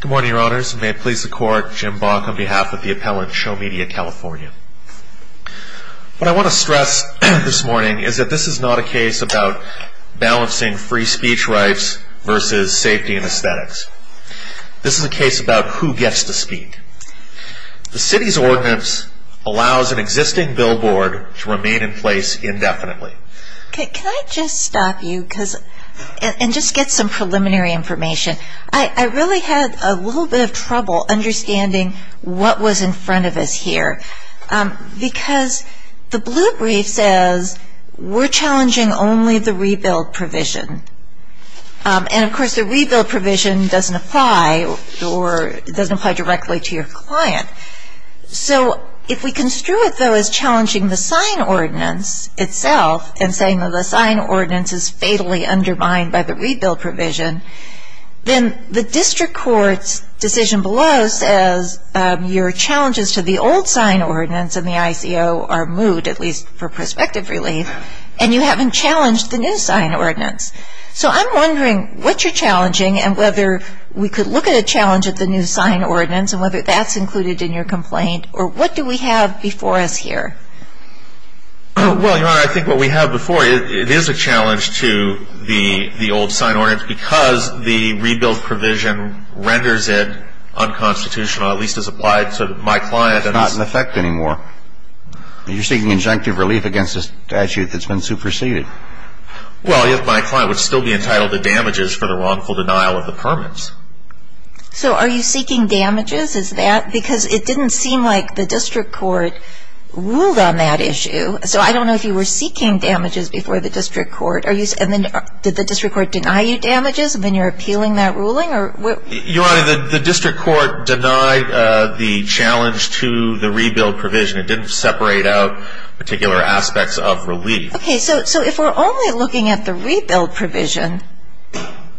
Good morning, your honors. May it please the court, Jim Bach on behalf of the appellant, Show Media California. What I want to stress this morning is that this is not a case about balancing free speech rights versus safety and aesthetics. This is a case about who gets to speak. The city's ordinance allows an existing billboard to remain in place indefinitely. Can I just stop you and get some preliminary information? I really had a little bit of trouble understanding what was in front of us here. Because the blue brief says we're challenging only the rebuild provision. And of course the rebuild provision doesn't apply directly to your client. So if we construe it though as challenging the sign ordinance itself and saying that the sign ordinance is fatally undermined by the rebuild provision, then the district court's decision below says your challenges to the old sign ordinance and the ICO are moved, at least for perspective relief, and you haven't challenged the new sign ordinance. So I'm wondering what you're challenging and whether we could look at a challenge at the new sign ordinance and whether that's included in your complaint, or what do we have before us here? Well, your honor, I think what we have before you, it is a challenge to the old sign ordinance because the rebuild provision renders it unconstitutional, at least as applied to my client. It's not in effect anymore. You're seeking injunctive relief against a statute that's been superseded. Well, my client would still be entitled to damages for the wrongful denial of the permits. So are you seeking damages? Is that because it didn't seem like the district court ruled on that issue. So I don't know if you were seeking damages before the district court. Did the district court deny you damages when you were appealing that ruling? Your honor, the district court denied the challenge to the rebuild provision. It didn't separate out particular aspects of relief. Okay. So if we're only looking at the rebuild provision,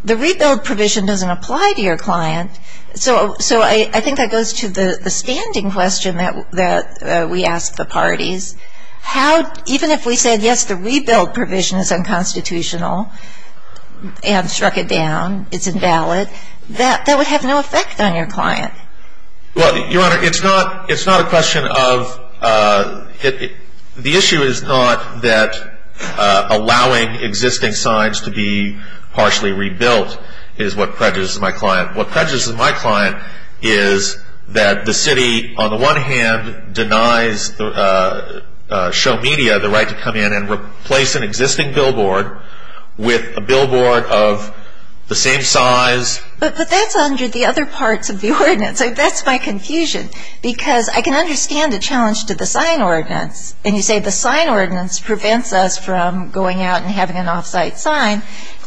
the rebuild provision doesn't apply to your client. So I think that goes to the standing question that we asked the parties. Even if we said, yes, the rebuild provision is unconstitutional and struck it down, it's invalid, that would have no effect on your client. Well, your honor, it's not a question of – the issue is not that allowing existing signs to be partially rebuilt is what prejudices my client. What prejudices my client is that the city, on the one hand, denies show media the right to come in and replace an existing billboard with a billboard of the same size. But that's under the other parts of the ordinance. That's my confusion because I can understand the challenge to the sign ordinance. And you say the sign ordinance prevents us from going out and having an off-site sign.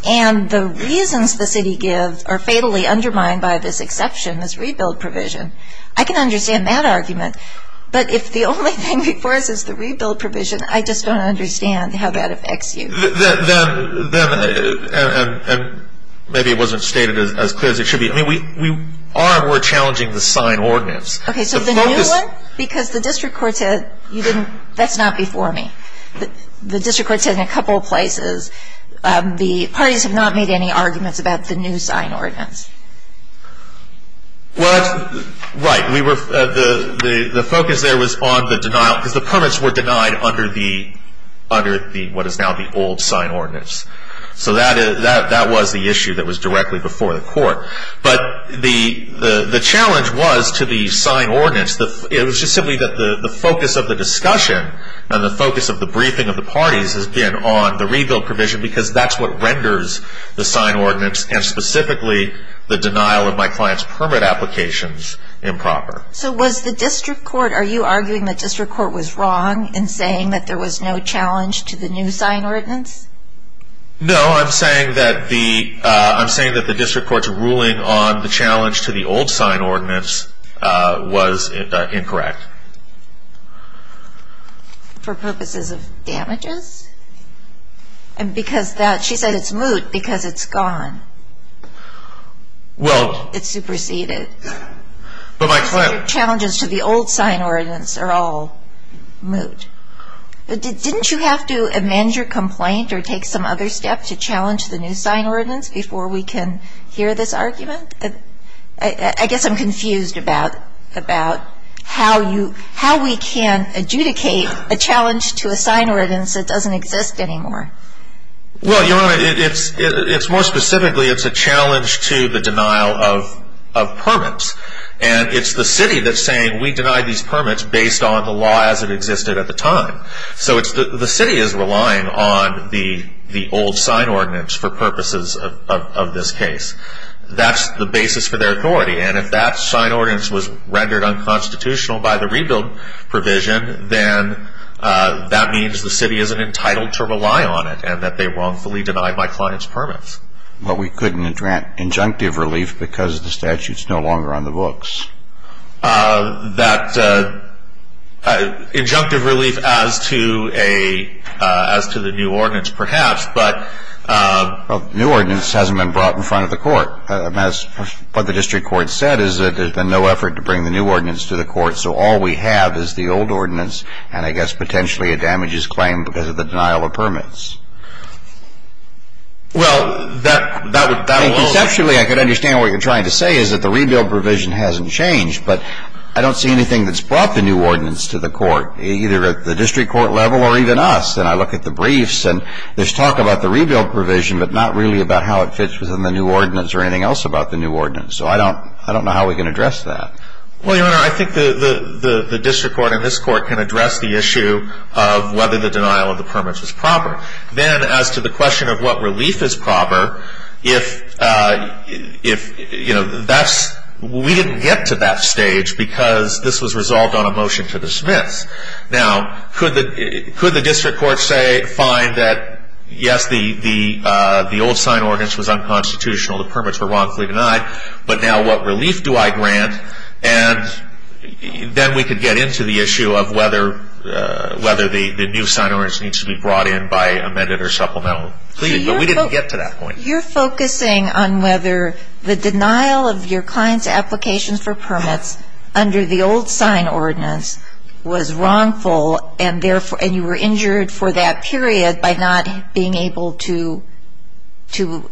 And the reasons the city gives are fatally undermined by this exception, this rebuild provision. I can understand that argument. But if the only thing before us is the rebuild provision, I just don't understand how that affects you. And maybe it wasn't stated as clear as it should be. I mean, we are more challenging the sign ordinance. Okay, so the new one? Because the district court said you didn't – that's not before me. The district court said in a couple of places the parties have not made any arguments about the new sign ordinance. Well, that's – right. We were – the focus there was on the denial because the permits were denied under the – what is now the old sign ordinance. So that was the issue that was directly before the court. But the challenge was to the sign ordinance, it was just simply that the focus of the discussion and the focus of the briefing of the parties has been on the rebuild provision because that's what renders the sign ordinance and specifically the denial of my client's permit applications improper. So was the district court – are you arguing the district court was wrong in saying that there was no challenge to the new sign ordinance? No, I'm saying that the – I'm saying that the district court's ruling on the challenge to the old sign ordinance was incorrect. For purposes of damages? And because that – she said it's moot because it's gone. Well – It's superseded. But my client – The challenges to the old sign ordinance are all moot. Didn't you have to amend your complaint or take some other step to challenge the new sign ordinance before we can hear this argument? I guess I'm confused about how you – how we can adjudicate a challenge to a sign ordinance that doesn't exist anymore. Well, Your Honor, it's more specifically it's a challenge to the denial of permits. And it's the city that's saying we deny these permits based on the law as it existed at the time. So it's – the city is relying on the old sign ordinance for purposes of this case. That's the basis for their authority. And if that sign ordinance was rendered unconstitutional by the rebuild provision, then that means the city isn't entitled to rely on it and that they wrongfully deny my client's permits. But we couldn't grant injunctive relief because the statute's no longer on the books. That – injunctive relief as to a – as to the new ordinance, perhaps, but – Well, the new ordinance hasn't been brought in front of the court. What the district court said is that there's been no effort to bring the new ordinance to the court, so all we have is the old ordinance and, I guess, potentially a damages claim because of the denial of permits. Well, that would – that would – Conceptually, I could understand what you're trying to say is that the rebuild provision hasn't changed, but I don't see anything that's brought the new ordinance to the court, either at the district court level or even us. And I look at the briefs and there's talk about the rebuild provision, but not really about how it fits within the new ordinance or anything else about the new ordinance. So I don't – I don't know how we can address that. Well, Your Honor, I think the district court and this court can address the issue of whether the denial of the permits is proper. Then, as to the question of what relief is proper, if – if, you know, that's – we didn't get to that stage because this was resolved on a motion to dismiss. Now, could the – could the district court say – find that, yes, the – the old sign ordinance was unconstitutional, the permits were wrongfully denied, but now what relief do I grant? And then we could get into the issue of whether – whether the new sign ordinance needs to be brought in by amended or supplemental. But we didn't get to that point. You're focusing on whether the denial of your client's applications for permits under the old sign ordinance was wrongful and therefore – and you were injured for that period by not being able to – to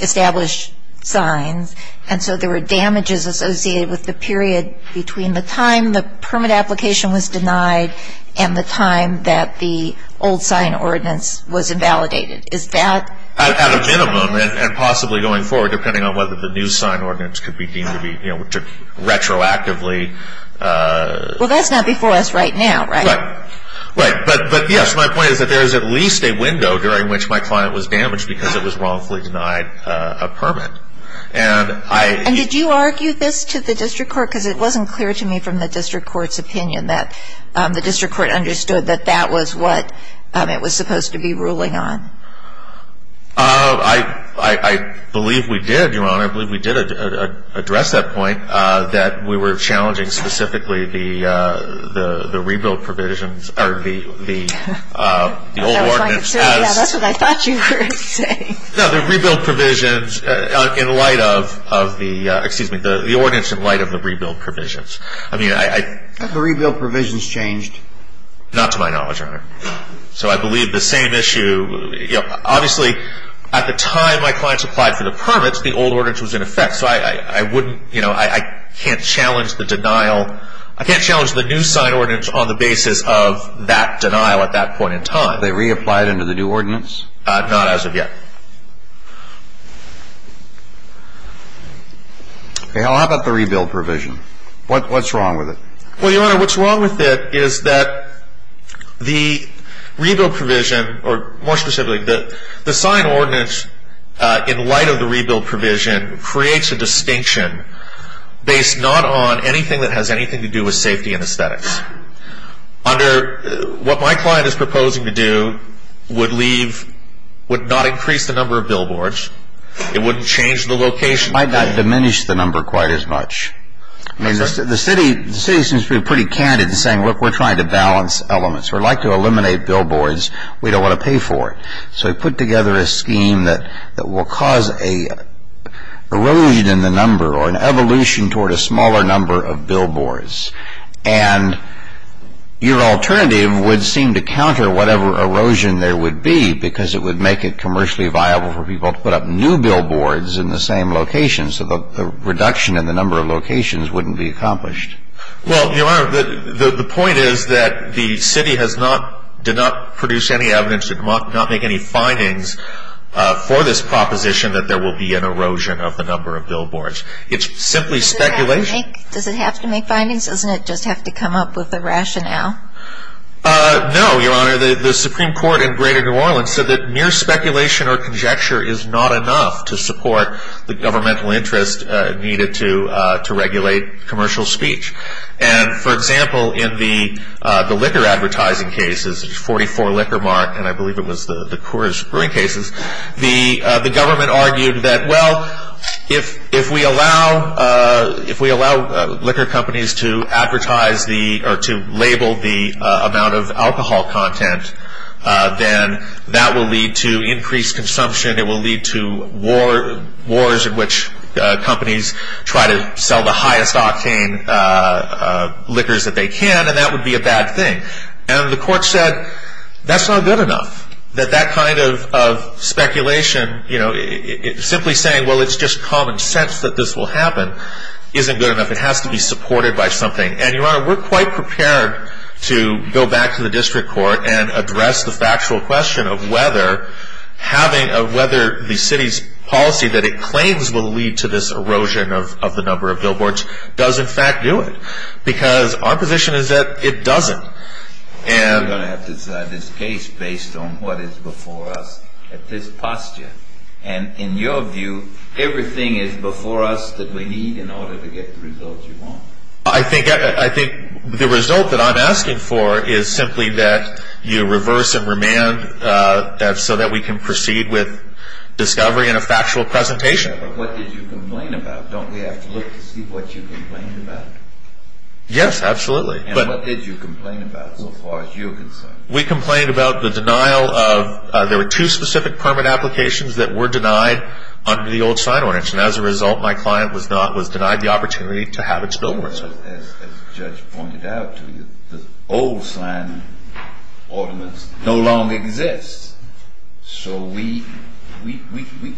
establish signs. And so there were damages associated with the period between the time the permit application was denied and the time that the old sign ordinance was invalidated. Is that – At a minimum and possibly going forward, depending on whether the new sign ordinance could be deemed to be, you know, retroactively – Well, that's not before us right now, right? Right. Right. But, yes, my point is that there is at least a window during which my client was damaged because it was wrongfully denied a permit. And I – And did you argue this to the district court? Because it wasn't clear to me from the district court's opinion that the district court understood that that was what it was supposed to be ruling on. I believe we did, Your Honor. I believe we did address that point, that we were challenging specifically the rebuild provisions – or the old ordinance as – That's what I thought you were saying. No, the rebuild provisions in light of the – excuse me, the ordinance in light of the rebuild provisions. I mean, I – Have the rebuild provisions changed? Not to my knowledge, Your Honor. So I believe the same issue – you know, obviously, at the time my clients applied for the permits, the old ordinance was in effect. So I wouldn't – you know, I can't challenge the denial – I can't challenge the new sign ordinance on the basis of that denial at that point in time. Have they reapplied under the new ordinance? Not as of yet. Okay, well, how about the rebuild provision? What's wrong with it? Well, Your Honor, what's wrong with it is that the rebuild provision – or more specifically, the sign ordinance in light of the rebuild provision creates a distinction based not on anything that has anything to do with safety and aesthetics. Under – what my client is proposing to do would leave – would not increase the number of billboards. It wouldn't change the location. Might not diminish the number quite as much. I mean, the city seems to be pretty candid in saying, look, we're trying to balance elements. We'd like to eliminate billboards. We don't want to pay for it. So we put together a scheme that will cause an erosion in the number or an evolution toward a smaller number of billboards. And your alternative would seem to counter whatever erosion there would be because it would make it commercially viable for people to put up new billboards in the same location so the reduction in the number of locations wouldn't be accomplished. Well, Your Honor, the point is that the city has not – did not produce any evidence, did not make any findings for this proposition that there will be an erosion of the number of billboards. It's simply speculation. Does it have to make findings? Doesn't it just have to come up with a rationale? No, Your Honor. Your Honor, the Supreme Court in greater New Orleans said that mere speculation or conjecture is not enough to support the governmental interest needed to regulate commercial speech. And, for example, in the liquor advertising cases, 44 Liquor Mart, and I believe it was the Coors Brewing cases, the government argued that, well, if we allow liquor companies to advertise the – or to label the amount of alcohol content, then that will lead to increased consumption. It will lead to wars in which companies try to sell the highest octane liquors that they can, and that would be a bad thing. And the court said that's not good enough, that that kind of speculation, you know, simply saying, well, it's just common sense that this will happen, isn't good enough. It has to be supported by something. And, Your Honor, we're quite prepared to go back to the district court and address the factual question of whether having – of whether the city's policy that it claims will lead to this erosion of the number of billboards does, in fact, do it. Because our position is that it doesn't. And – You're going to have to decide this case based on what is before us at this posture. And, in your view, everything is before us that we need in order to get the results you want. I think – I think the result that I'm asking for is simply that you reverse and remand so that we can proceed with discovery and a factual presentation. But what did you complain about? Don't we have to look to see what you complained about? Yes, absolutely. And what did you complain about, so far as you're concerned? We complained about the denial of – there were two specific permit applications that were denied under the old sign ordinance. And, as a result, my client was not – was denied the opportunity to have its billboards. As the judge pointed out to you, the old sign ordinance no longer exists. So we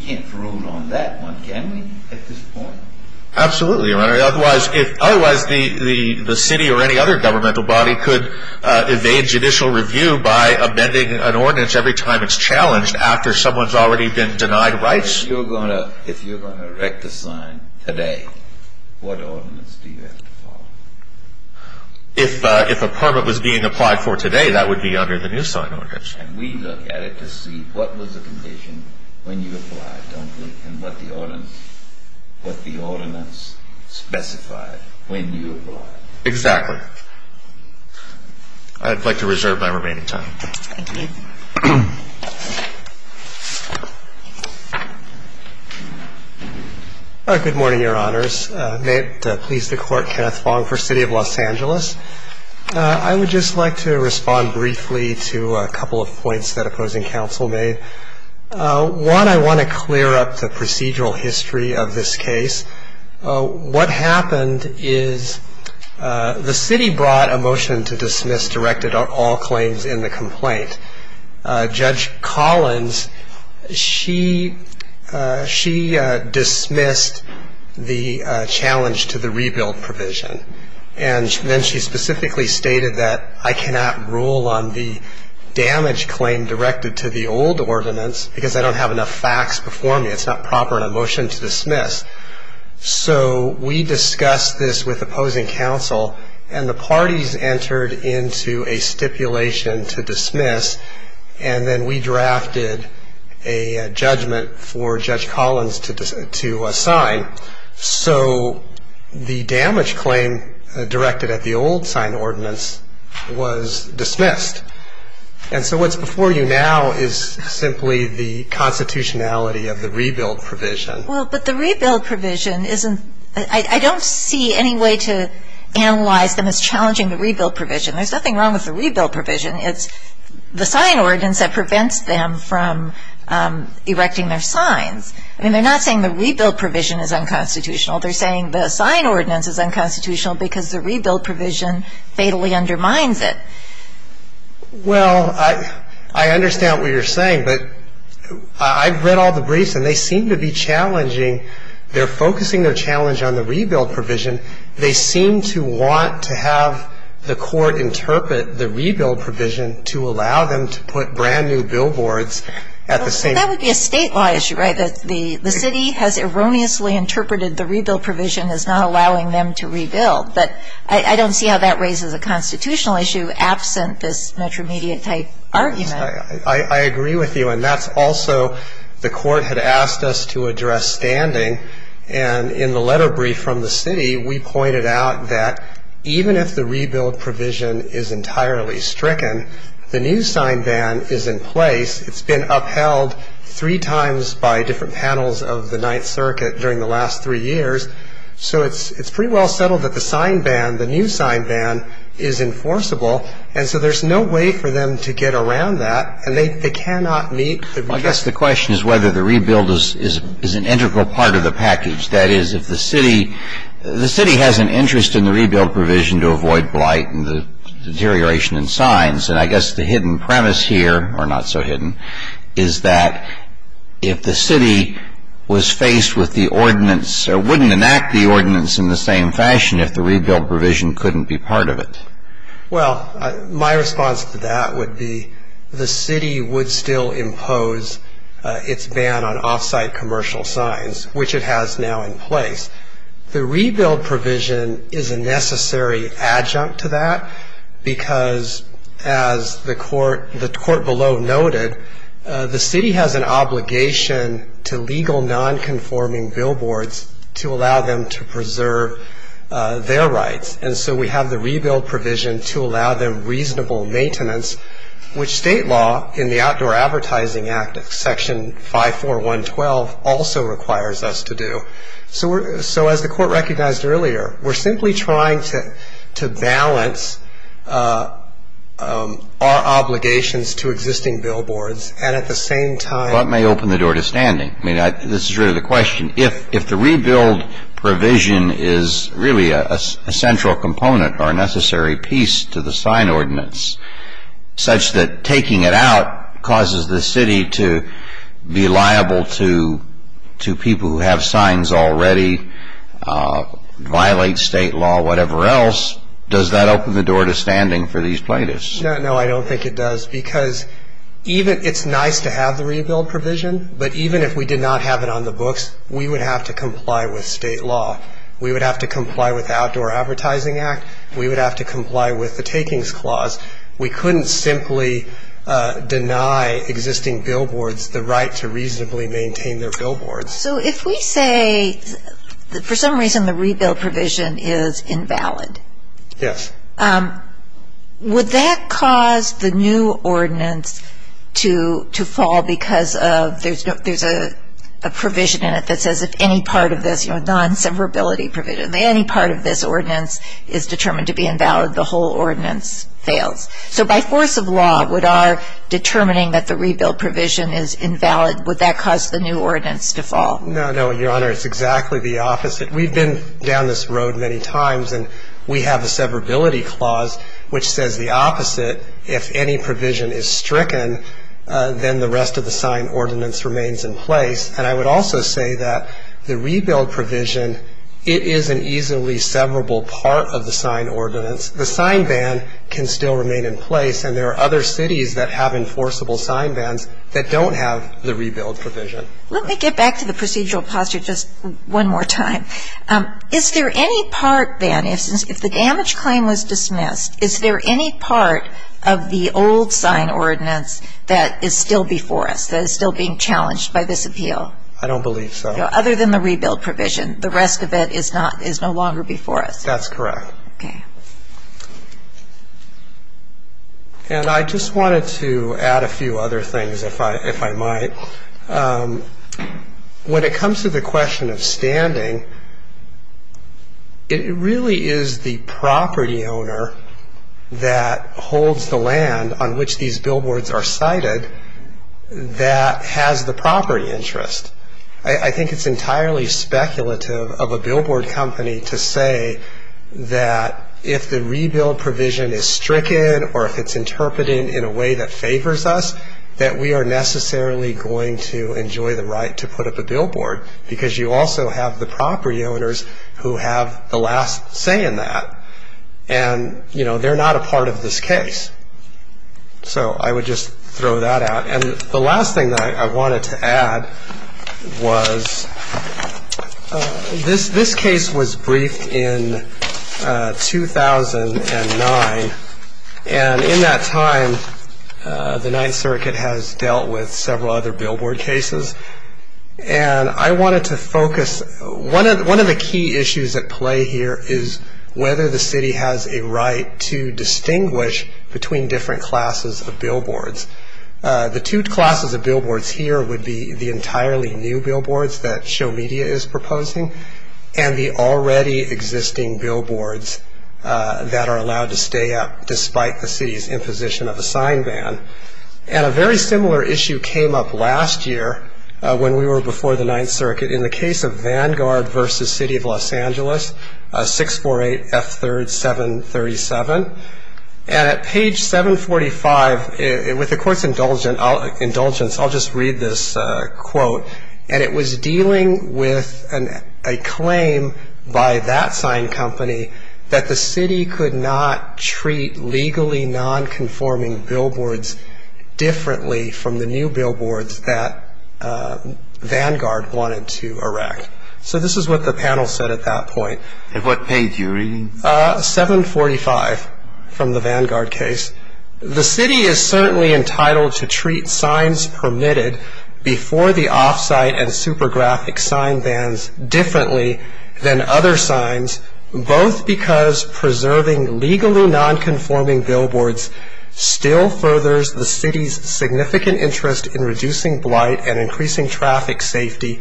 can't rule on that one, can we, at this point? Absolutely, Your Honor. Otherwise, the city or any other governmental body could evade judicial review by amending an ordinance every time it's challenged after someone's already been denied rights. If you're going to erect a sign today, what ordinance do you have to follow? If a permit was being applied for today, that would be under the new sign ordinance. And we look at it to see what was the condition when you applied, don't we, and what the ordinance specified when you applied. Exactly. I'd like to reserve my remaining time. Thank you. Good morning, Your Honors. May it please the Court, Kenneth Fong for City of Los Angeles. I would just like to respond briefly to a couple of points that opposing counsel made. One, I want to clear up the procedural history of this case. What happened is the city brought a motion to dismiss directed all claims in the complaint. Judge Collins, she dismissed the challenge to the rebuild provision. And then she specifically stated that I cannot rule on the damage claim directed to the old ordinance because I don't have enough facts before me. It's not proper in a motion to dismiss. So we discussed this with opposing counsel, and the parties entered into a stipulation to dismiss, and then we drafted a judgment for Judge Collins to assign. So the damage claim directed at the old sign ordinance was dismissed. And so what's before you now is simply the constitutionality of the rebuild provision. Well, but the rebuild provision isn't ‑‑ I don't see any way to analyze them as challenging the rebuild provision. There's nothing wrong with the rebuild provision. It's the sign ordinance that prevents them from erecting their signs. I mean, they're not saying the rebuild provision is unconstitutional. They're saying the sign ordinance is unconstitutional because the rebuild provision fatally undermines it. Well, I understand what you're saying, but I've read all the briefs, and they seem to be challenging. They're focusing their challenge on the rebuild provision. They seem to want to have the court interpret the rebuild provision to allow them to put brand-new billboards at the same time. Well, that would be a state law issue, right, that the city has erroneously interpreted the rebuild provision as not allowing them to rebuild. But I don't see how that raises a constitutional issue absent this metromedia-type argument. I agree with you, and that's also the court had asked us to address standing. And in the letter brief from the city, we pointed out that even if the rebuild provision is entirely stricken, the new sign ban is in place. It's been upheld three times by different panels of the Ninth Circuit during the last three years. So it's pretty well settled that the sign ban, the new sign ban, is enforceable. And so there's no way for them to get around that, and they cannot meet the request. I guess the question is whether the rebuild is an integral part of the package. That is, if the city has an interest in the rebuild provision to avoid blight and the deterioration in signs, and I guess the hidden premise here, or not so hidden, is that if the city was faced with the ordinance or wouldn't enact the ordinance in the same fashion if the rebuild provision couldn't be part of it. Well, my response to that would be the city would still impose its ban on off-site commercial signs, which it has now in place. The rebuild provision is a necessary adjunct to that because, as the court below noted, the city has an obligation to legal non-conforming billboards to allow them to preserve their rights. And so we have the rebuild provision to allow them reasonable maintenance, which state law in the Outdoor Advertising Act, Section 54112, also requires us to do. So as the court recognized earlier, we're simply trying to balance our obligations to existing billboards. And at the same time… Well, that may open the door to standing. I mean, this is really the question. If the rebuild provision is really a central component or a necessary piece to the sign ordinance, such that taking it out causes the city to be liable to people who have signs already, violate state law, whatever else, does that open the door to standing for these plaintiffs? No, I don't think it does. Because it's nice to have the rebuild provision, but even if we did not have it on the books, we would have to comply with state law. We would have to comply with the Outdoor Advertising Act. We would have to comply with the Takings Clause. We couldn't simply deny existing billboards the right to reasonably maintain their billboards. So if we say, for some reason, the rebuild provision is invalid. Yes. Would that cause the new ordinance to fall because there's a provision in it that says, if any part of this, you know, non-severability provision, any part of this ordinance is determined to be invalid, the whole ordinance fails? So by force of law, would our determining that the rebuild provision is invalid, would that cause the new ordinance to fall? No, no, Your Honor. It's exactly the opposite. We've been down this road many times, and we have a severability clause which says the opposite. If any provision is stricken, then the rest of the sign ordinance remains in place. And I would also say that the rebuild provision, it is an easily severable part of the sign ordinance. The sign ban can still remain in place, and there are other cities that have enforceable sign bans that don't have the rebuild provision. Let me get back to the procedural posture just one more time. Is there any part then, if the damage claim was dismissed, is there any part of the old sign ordinance that is still before us, that is still being challenged by this appeal? I don't believe so. Other than the rebuild provision. The rest of it is no longer before us. That's correct. Okay. And I just wanted to add a few other things, if I might. When it comes to the question of standing, it really is the property owner that holds the land on which these billboards are sited that has the property interest. I think it's entirely speculative of a billboard company to say that if the rebuild provision is stricken or if it's interpreted in a way that favors us, that we are necessarily going to enjoy the right to put up a billboard, because you also have the property owners who have the last say in that. And, you know, they're not a part of this case. So I would just throw that out. And the last thing that I wanted to add was this case was briefed in 2009. And in that time, the Ninth Circuit has dealt with several other billboard cases. And I wanted to focus. One of the key issues at play here is whether the city has a right to distinguish between different classes of billboards. The two classes of billboards here would be the entirely new billboards that Show Media is proposing and the already existing billboards that are allowed to stay up despite the city's imposition of a sign ban. And a very similar issue came up last year when we were before the Ninth Circuit in the case of Vanguard v. City of Los Angeles, 648 F. 3rd, 737. And at page 745, with the Court's indulgence, I'll just read this quote. And it was dealing with a claim by that sign company that the city could not treat legally nonconforming billboards differently from the new billboards that Vanguard wanted to erect. So this is what the panel said at that point. And what page are you reading? 745 from the Vanguard case. The city is certainly entitled to treat signs permitted before the off-site and supergraphic sign bans differently than other signs, both because preserving legally nonconforming billboards still furthers the city's significant interest in reducing blight and increasing traffic safety,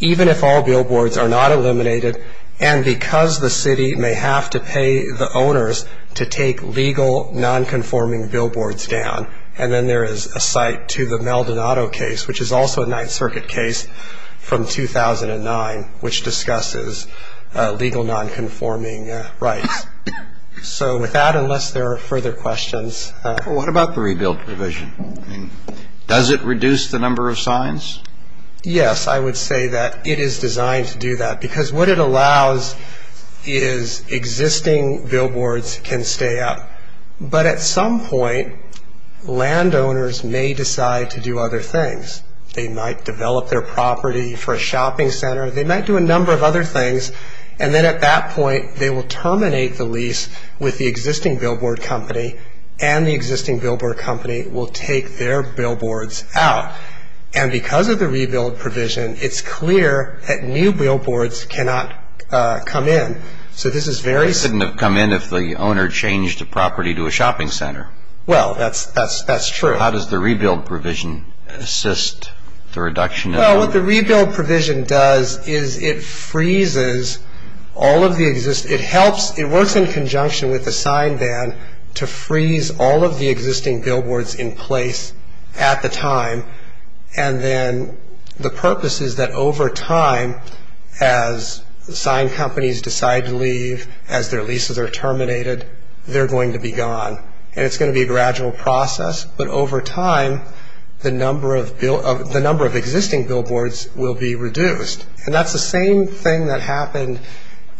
even if all billboards are not eliminated, and because the city may have to pay the owners to take legal nonconforming billboards down. And then there is a cite to the Maldonado case, which is also a Ninth Circuit case from 2009, which discusses legal nonconforming rights. So with that, unless there are further questions. What about the rebuild provision? Does it reduce the number of signs? Yes, I would say that it is designed to do that, because what it allows is existing billboards can stay up. But at some point, landowners may decide to do other things. They might develop their property for a shopping center. They might do a number of other things. And then at that point, they will terminate the lease with the existing billboard company, and the existing billboard company will take their billboards out. And because of the rebuild provision, it's clear that new billboards cannot come in. So this is very... It shouldn't have come in if the owner changed the property to a shopping center. Well, that's true. How does the rebuild provision assist the reduction of... Well, what the rebuild provision does is it freezes all of the existing... And then the purpose is that over time, as sign companies decide to leave, as their leases are terminated, they're going to be gone. And it's going to be a gradual process. But over time, the number of existing billboards will be reduced. And that's the same thing that happened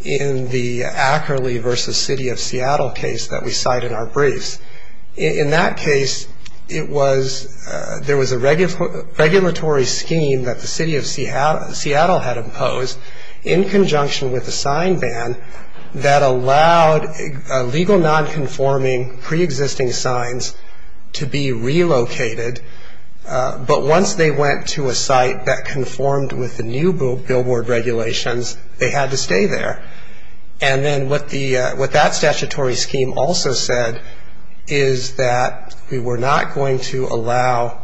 in the Ackerley v. City of Seattle case that we cite in our briefs. In that case, it was... There was a regulatory scheme that the City of Seattle had imposed in conjunction with the sign ban that allowed legal nonconforming preexisting signs to be relocated. But once they went to a site that conformed with the new billboard regulations, they had to stay there. And then what that statutory scheme also said is that we were not going to allow...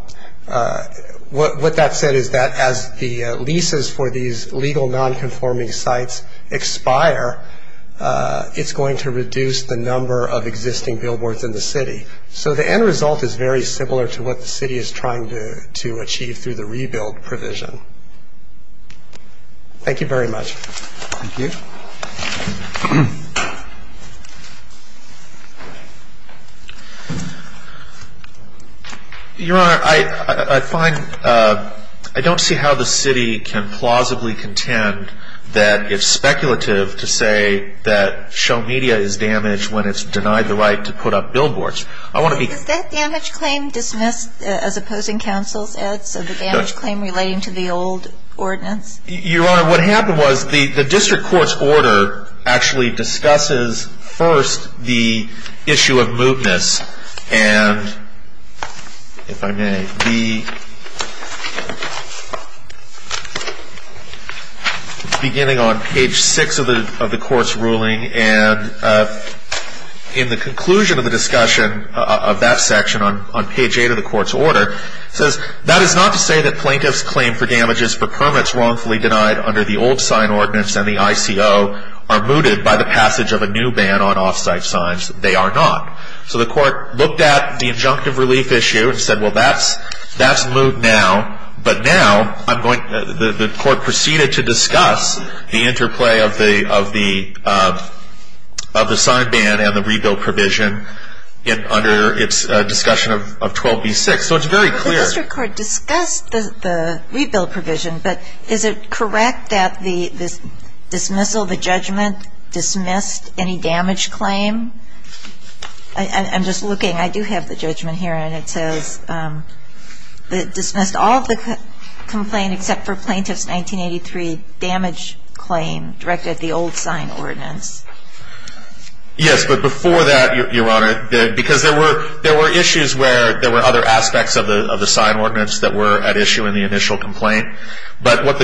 What that said is that as the leases for these legal nonconforming sites expire, it's going to reduce the number of existing billboards in the city. So the end result is very similar to what the city is trying to achieve through the rebuild provision. Thank you very much. Thank you. Your Honor, I find... I don't see how the city can plausibly contend that it's speculative to say that show media is damaged when it's denied the right to put up billboards. I want to be... Is that damage claim dismissed as opposing counsel's ad? So the damage claim relating to the old ordinance? Your Honor, what happened was the district court's order actually discusses first the issue of mootness. And if I may, beginning on page six of the court's ruling and in the conclusion of the discussion of that section on page eight of the court's order, it says that is not to say that plaintiff's claim for damages for permits wrongfully denied under the old sign ordinance and the ICO are mooted by the passage of a new ban on offsite signs. They are not. So the court looked at the injunctive relief issue and said, well, that's moot now. But now I'm going... The court proceeded to discuss the interplay of the sign ban and the rebuild provision under its discussion of 12B6. So it's very clear. But the district court discussed the rebuild provision, but is it correct that the dismissal, the judgment dismissed any damage claim? I'm just looking. I do have the judgment here, and it says dismissed all the complaint except for plaintiff's 1983 damage claim directed at the old sign ordinance. Yes, but before that, Your Honor, because there were issues where there were other aspects of the sign ordinance that were at issue in the initial complaint. But at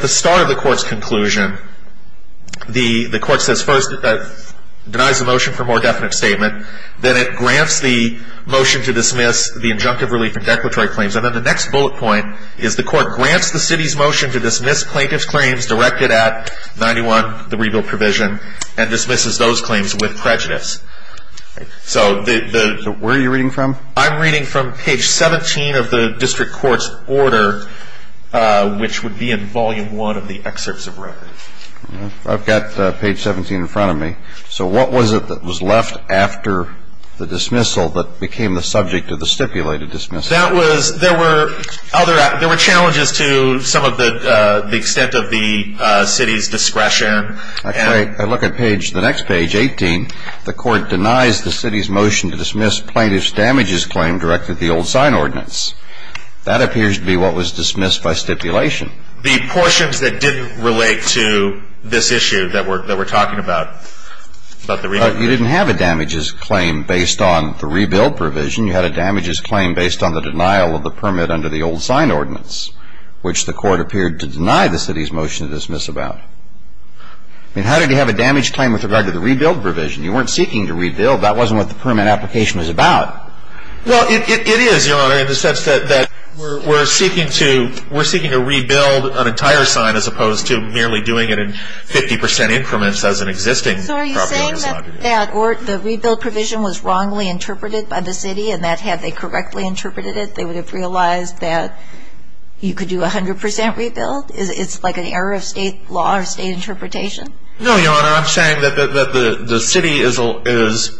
the start of the court's conclusion, the court says first denies the motion for more definite statement. Then it grants the motion to dismiss the injunctive relief and declaratory claims. And then the next bullet point is the court grants the city's motion to dismiss plaintiff's claims directed at 91, the rebuild provision, and dismisses those claims with prejudice. So the... So where are you reading from? I'm reading from page 17 of the district court's order, which would be in volume one of the excerpts of record. I've got page 17 in front of me. So what was it that was left after the dismissal that became the subject of the stipulated dismissal? There were challenges to some of the extent of the city's discretion. I look at the next page, 18. The court denies the city's motion to dismiss plaintiff's damages claim directed at the old sign ordinance. That appears to be what was dismissed by stipulation. The portions that didn't relate to this issue that we're talking about. You didn't have a damages claim based on the rebuild provision. You had a damages claim based on the denial of the permit under the old sign ordinance, which the court appeared to deny the city's motion to dismiss about. I mean, how did you have a damage claim with regard to the rebuild provision? You weren't seeking to rebuild. That wasn't what the permit application was about. Well, it is, Your Honor, in the sense that we're seeking to rebuild an entire sign as opposed to merely doing it in 50 percent increments as an existing property. So are you saying that the rebuild provision was wrongly interpreted by the city and that had they correctly interpreted it, they would have realized that you could do 100 percent rebuild? It's like an error of state law or state interpretation? No, Your Honor. I'm saying that the city has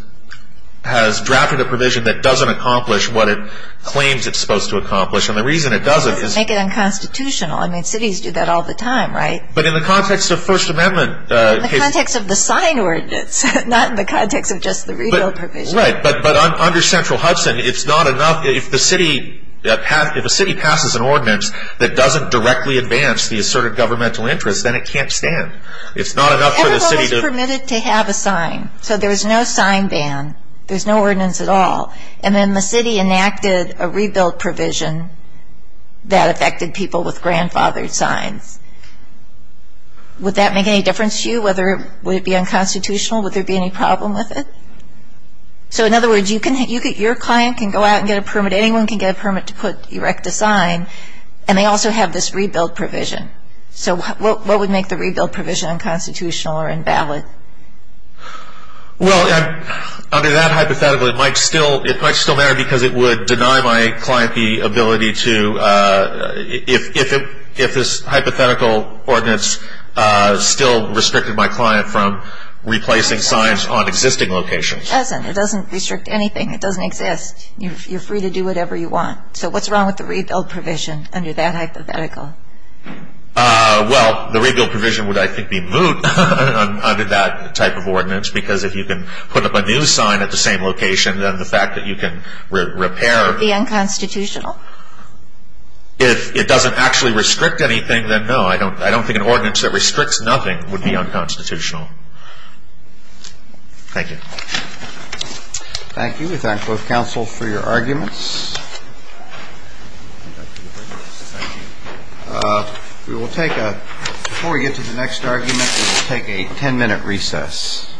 drafted a provision that doesn't accomplish what it claims it's supposed to accomplish. And the reason it doesn't is to make it unconstitutional. I mean, cities do that all the time, right? But in the context of First Amendment cases. In the context of the sign ordinance, not in the context of just the rebuild provision. Right. But under Central Hudson, it's not enough. If the city passes an ordinance that doesn't directly advance the asserted governmental interest, then it can't stand. It's not enough for the city to – Everyone was permitted to have a sign. So there was no sign ban. There was no ordinance at all. And then the city enacted a rebuild provision that affected people with grandfathered signs. Would that make any difference to you? Would it be unconstitutional? Would there be any problem with it? So in other words, your client can go out and get a permit. Anyone can get a permit to erect a sign. And they also have this rebuild provision. So what would make the rebuild provision unconstitutional or invalid? Well, under that hypothetical, it might still matter because it would deny my client the ability to – if this hypothetical ordinance still restricted my client from replacing signs on existing locations. It doesn't. It doesn't restrict anything. It doesn't exist. You're free to do whatever you want. So what's wrong with the rebuild provision under that hypothetical? Well, the rebuild provision would, I think, be moot under that type of ordinance because if you can put up a new sign at the same location, then the fact that you can repair – Would it be unconstitutional? If it doesn't actually restrict anything, then no. I don't think an ordinance that restricts nothing would be unconstitutional. Thank you. Thank you. We thank both counsel for your arguments. Thank you. We will take a – before we get to the next argument, we will take a 10-minute recess. Otherwise, we'll report this down to the 10-minute recess.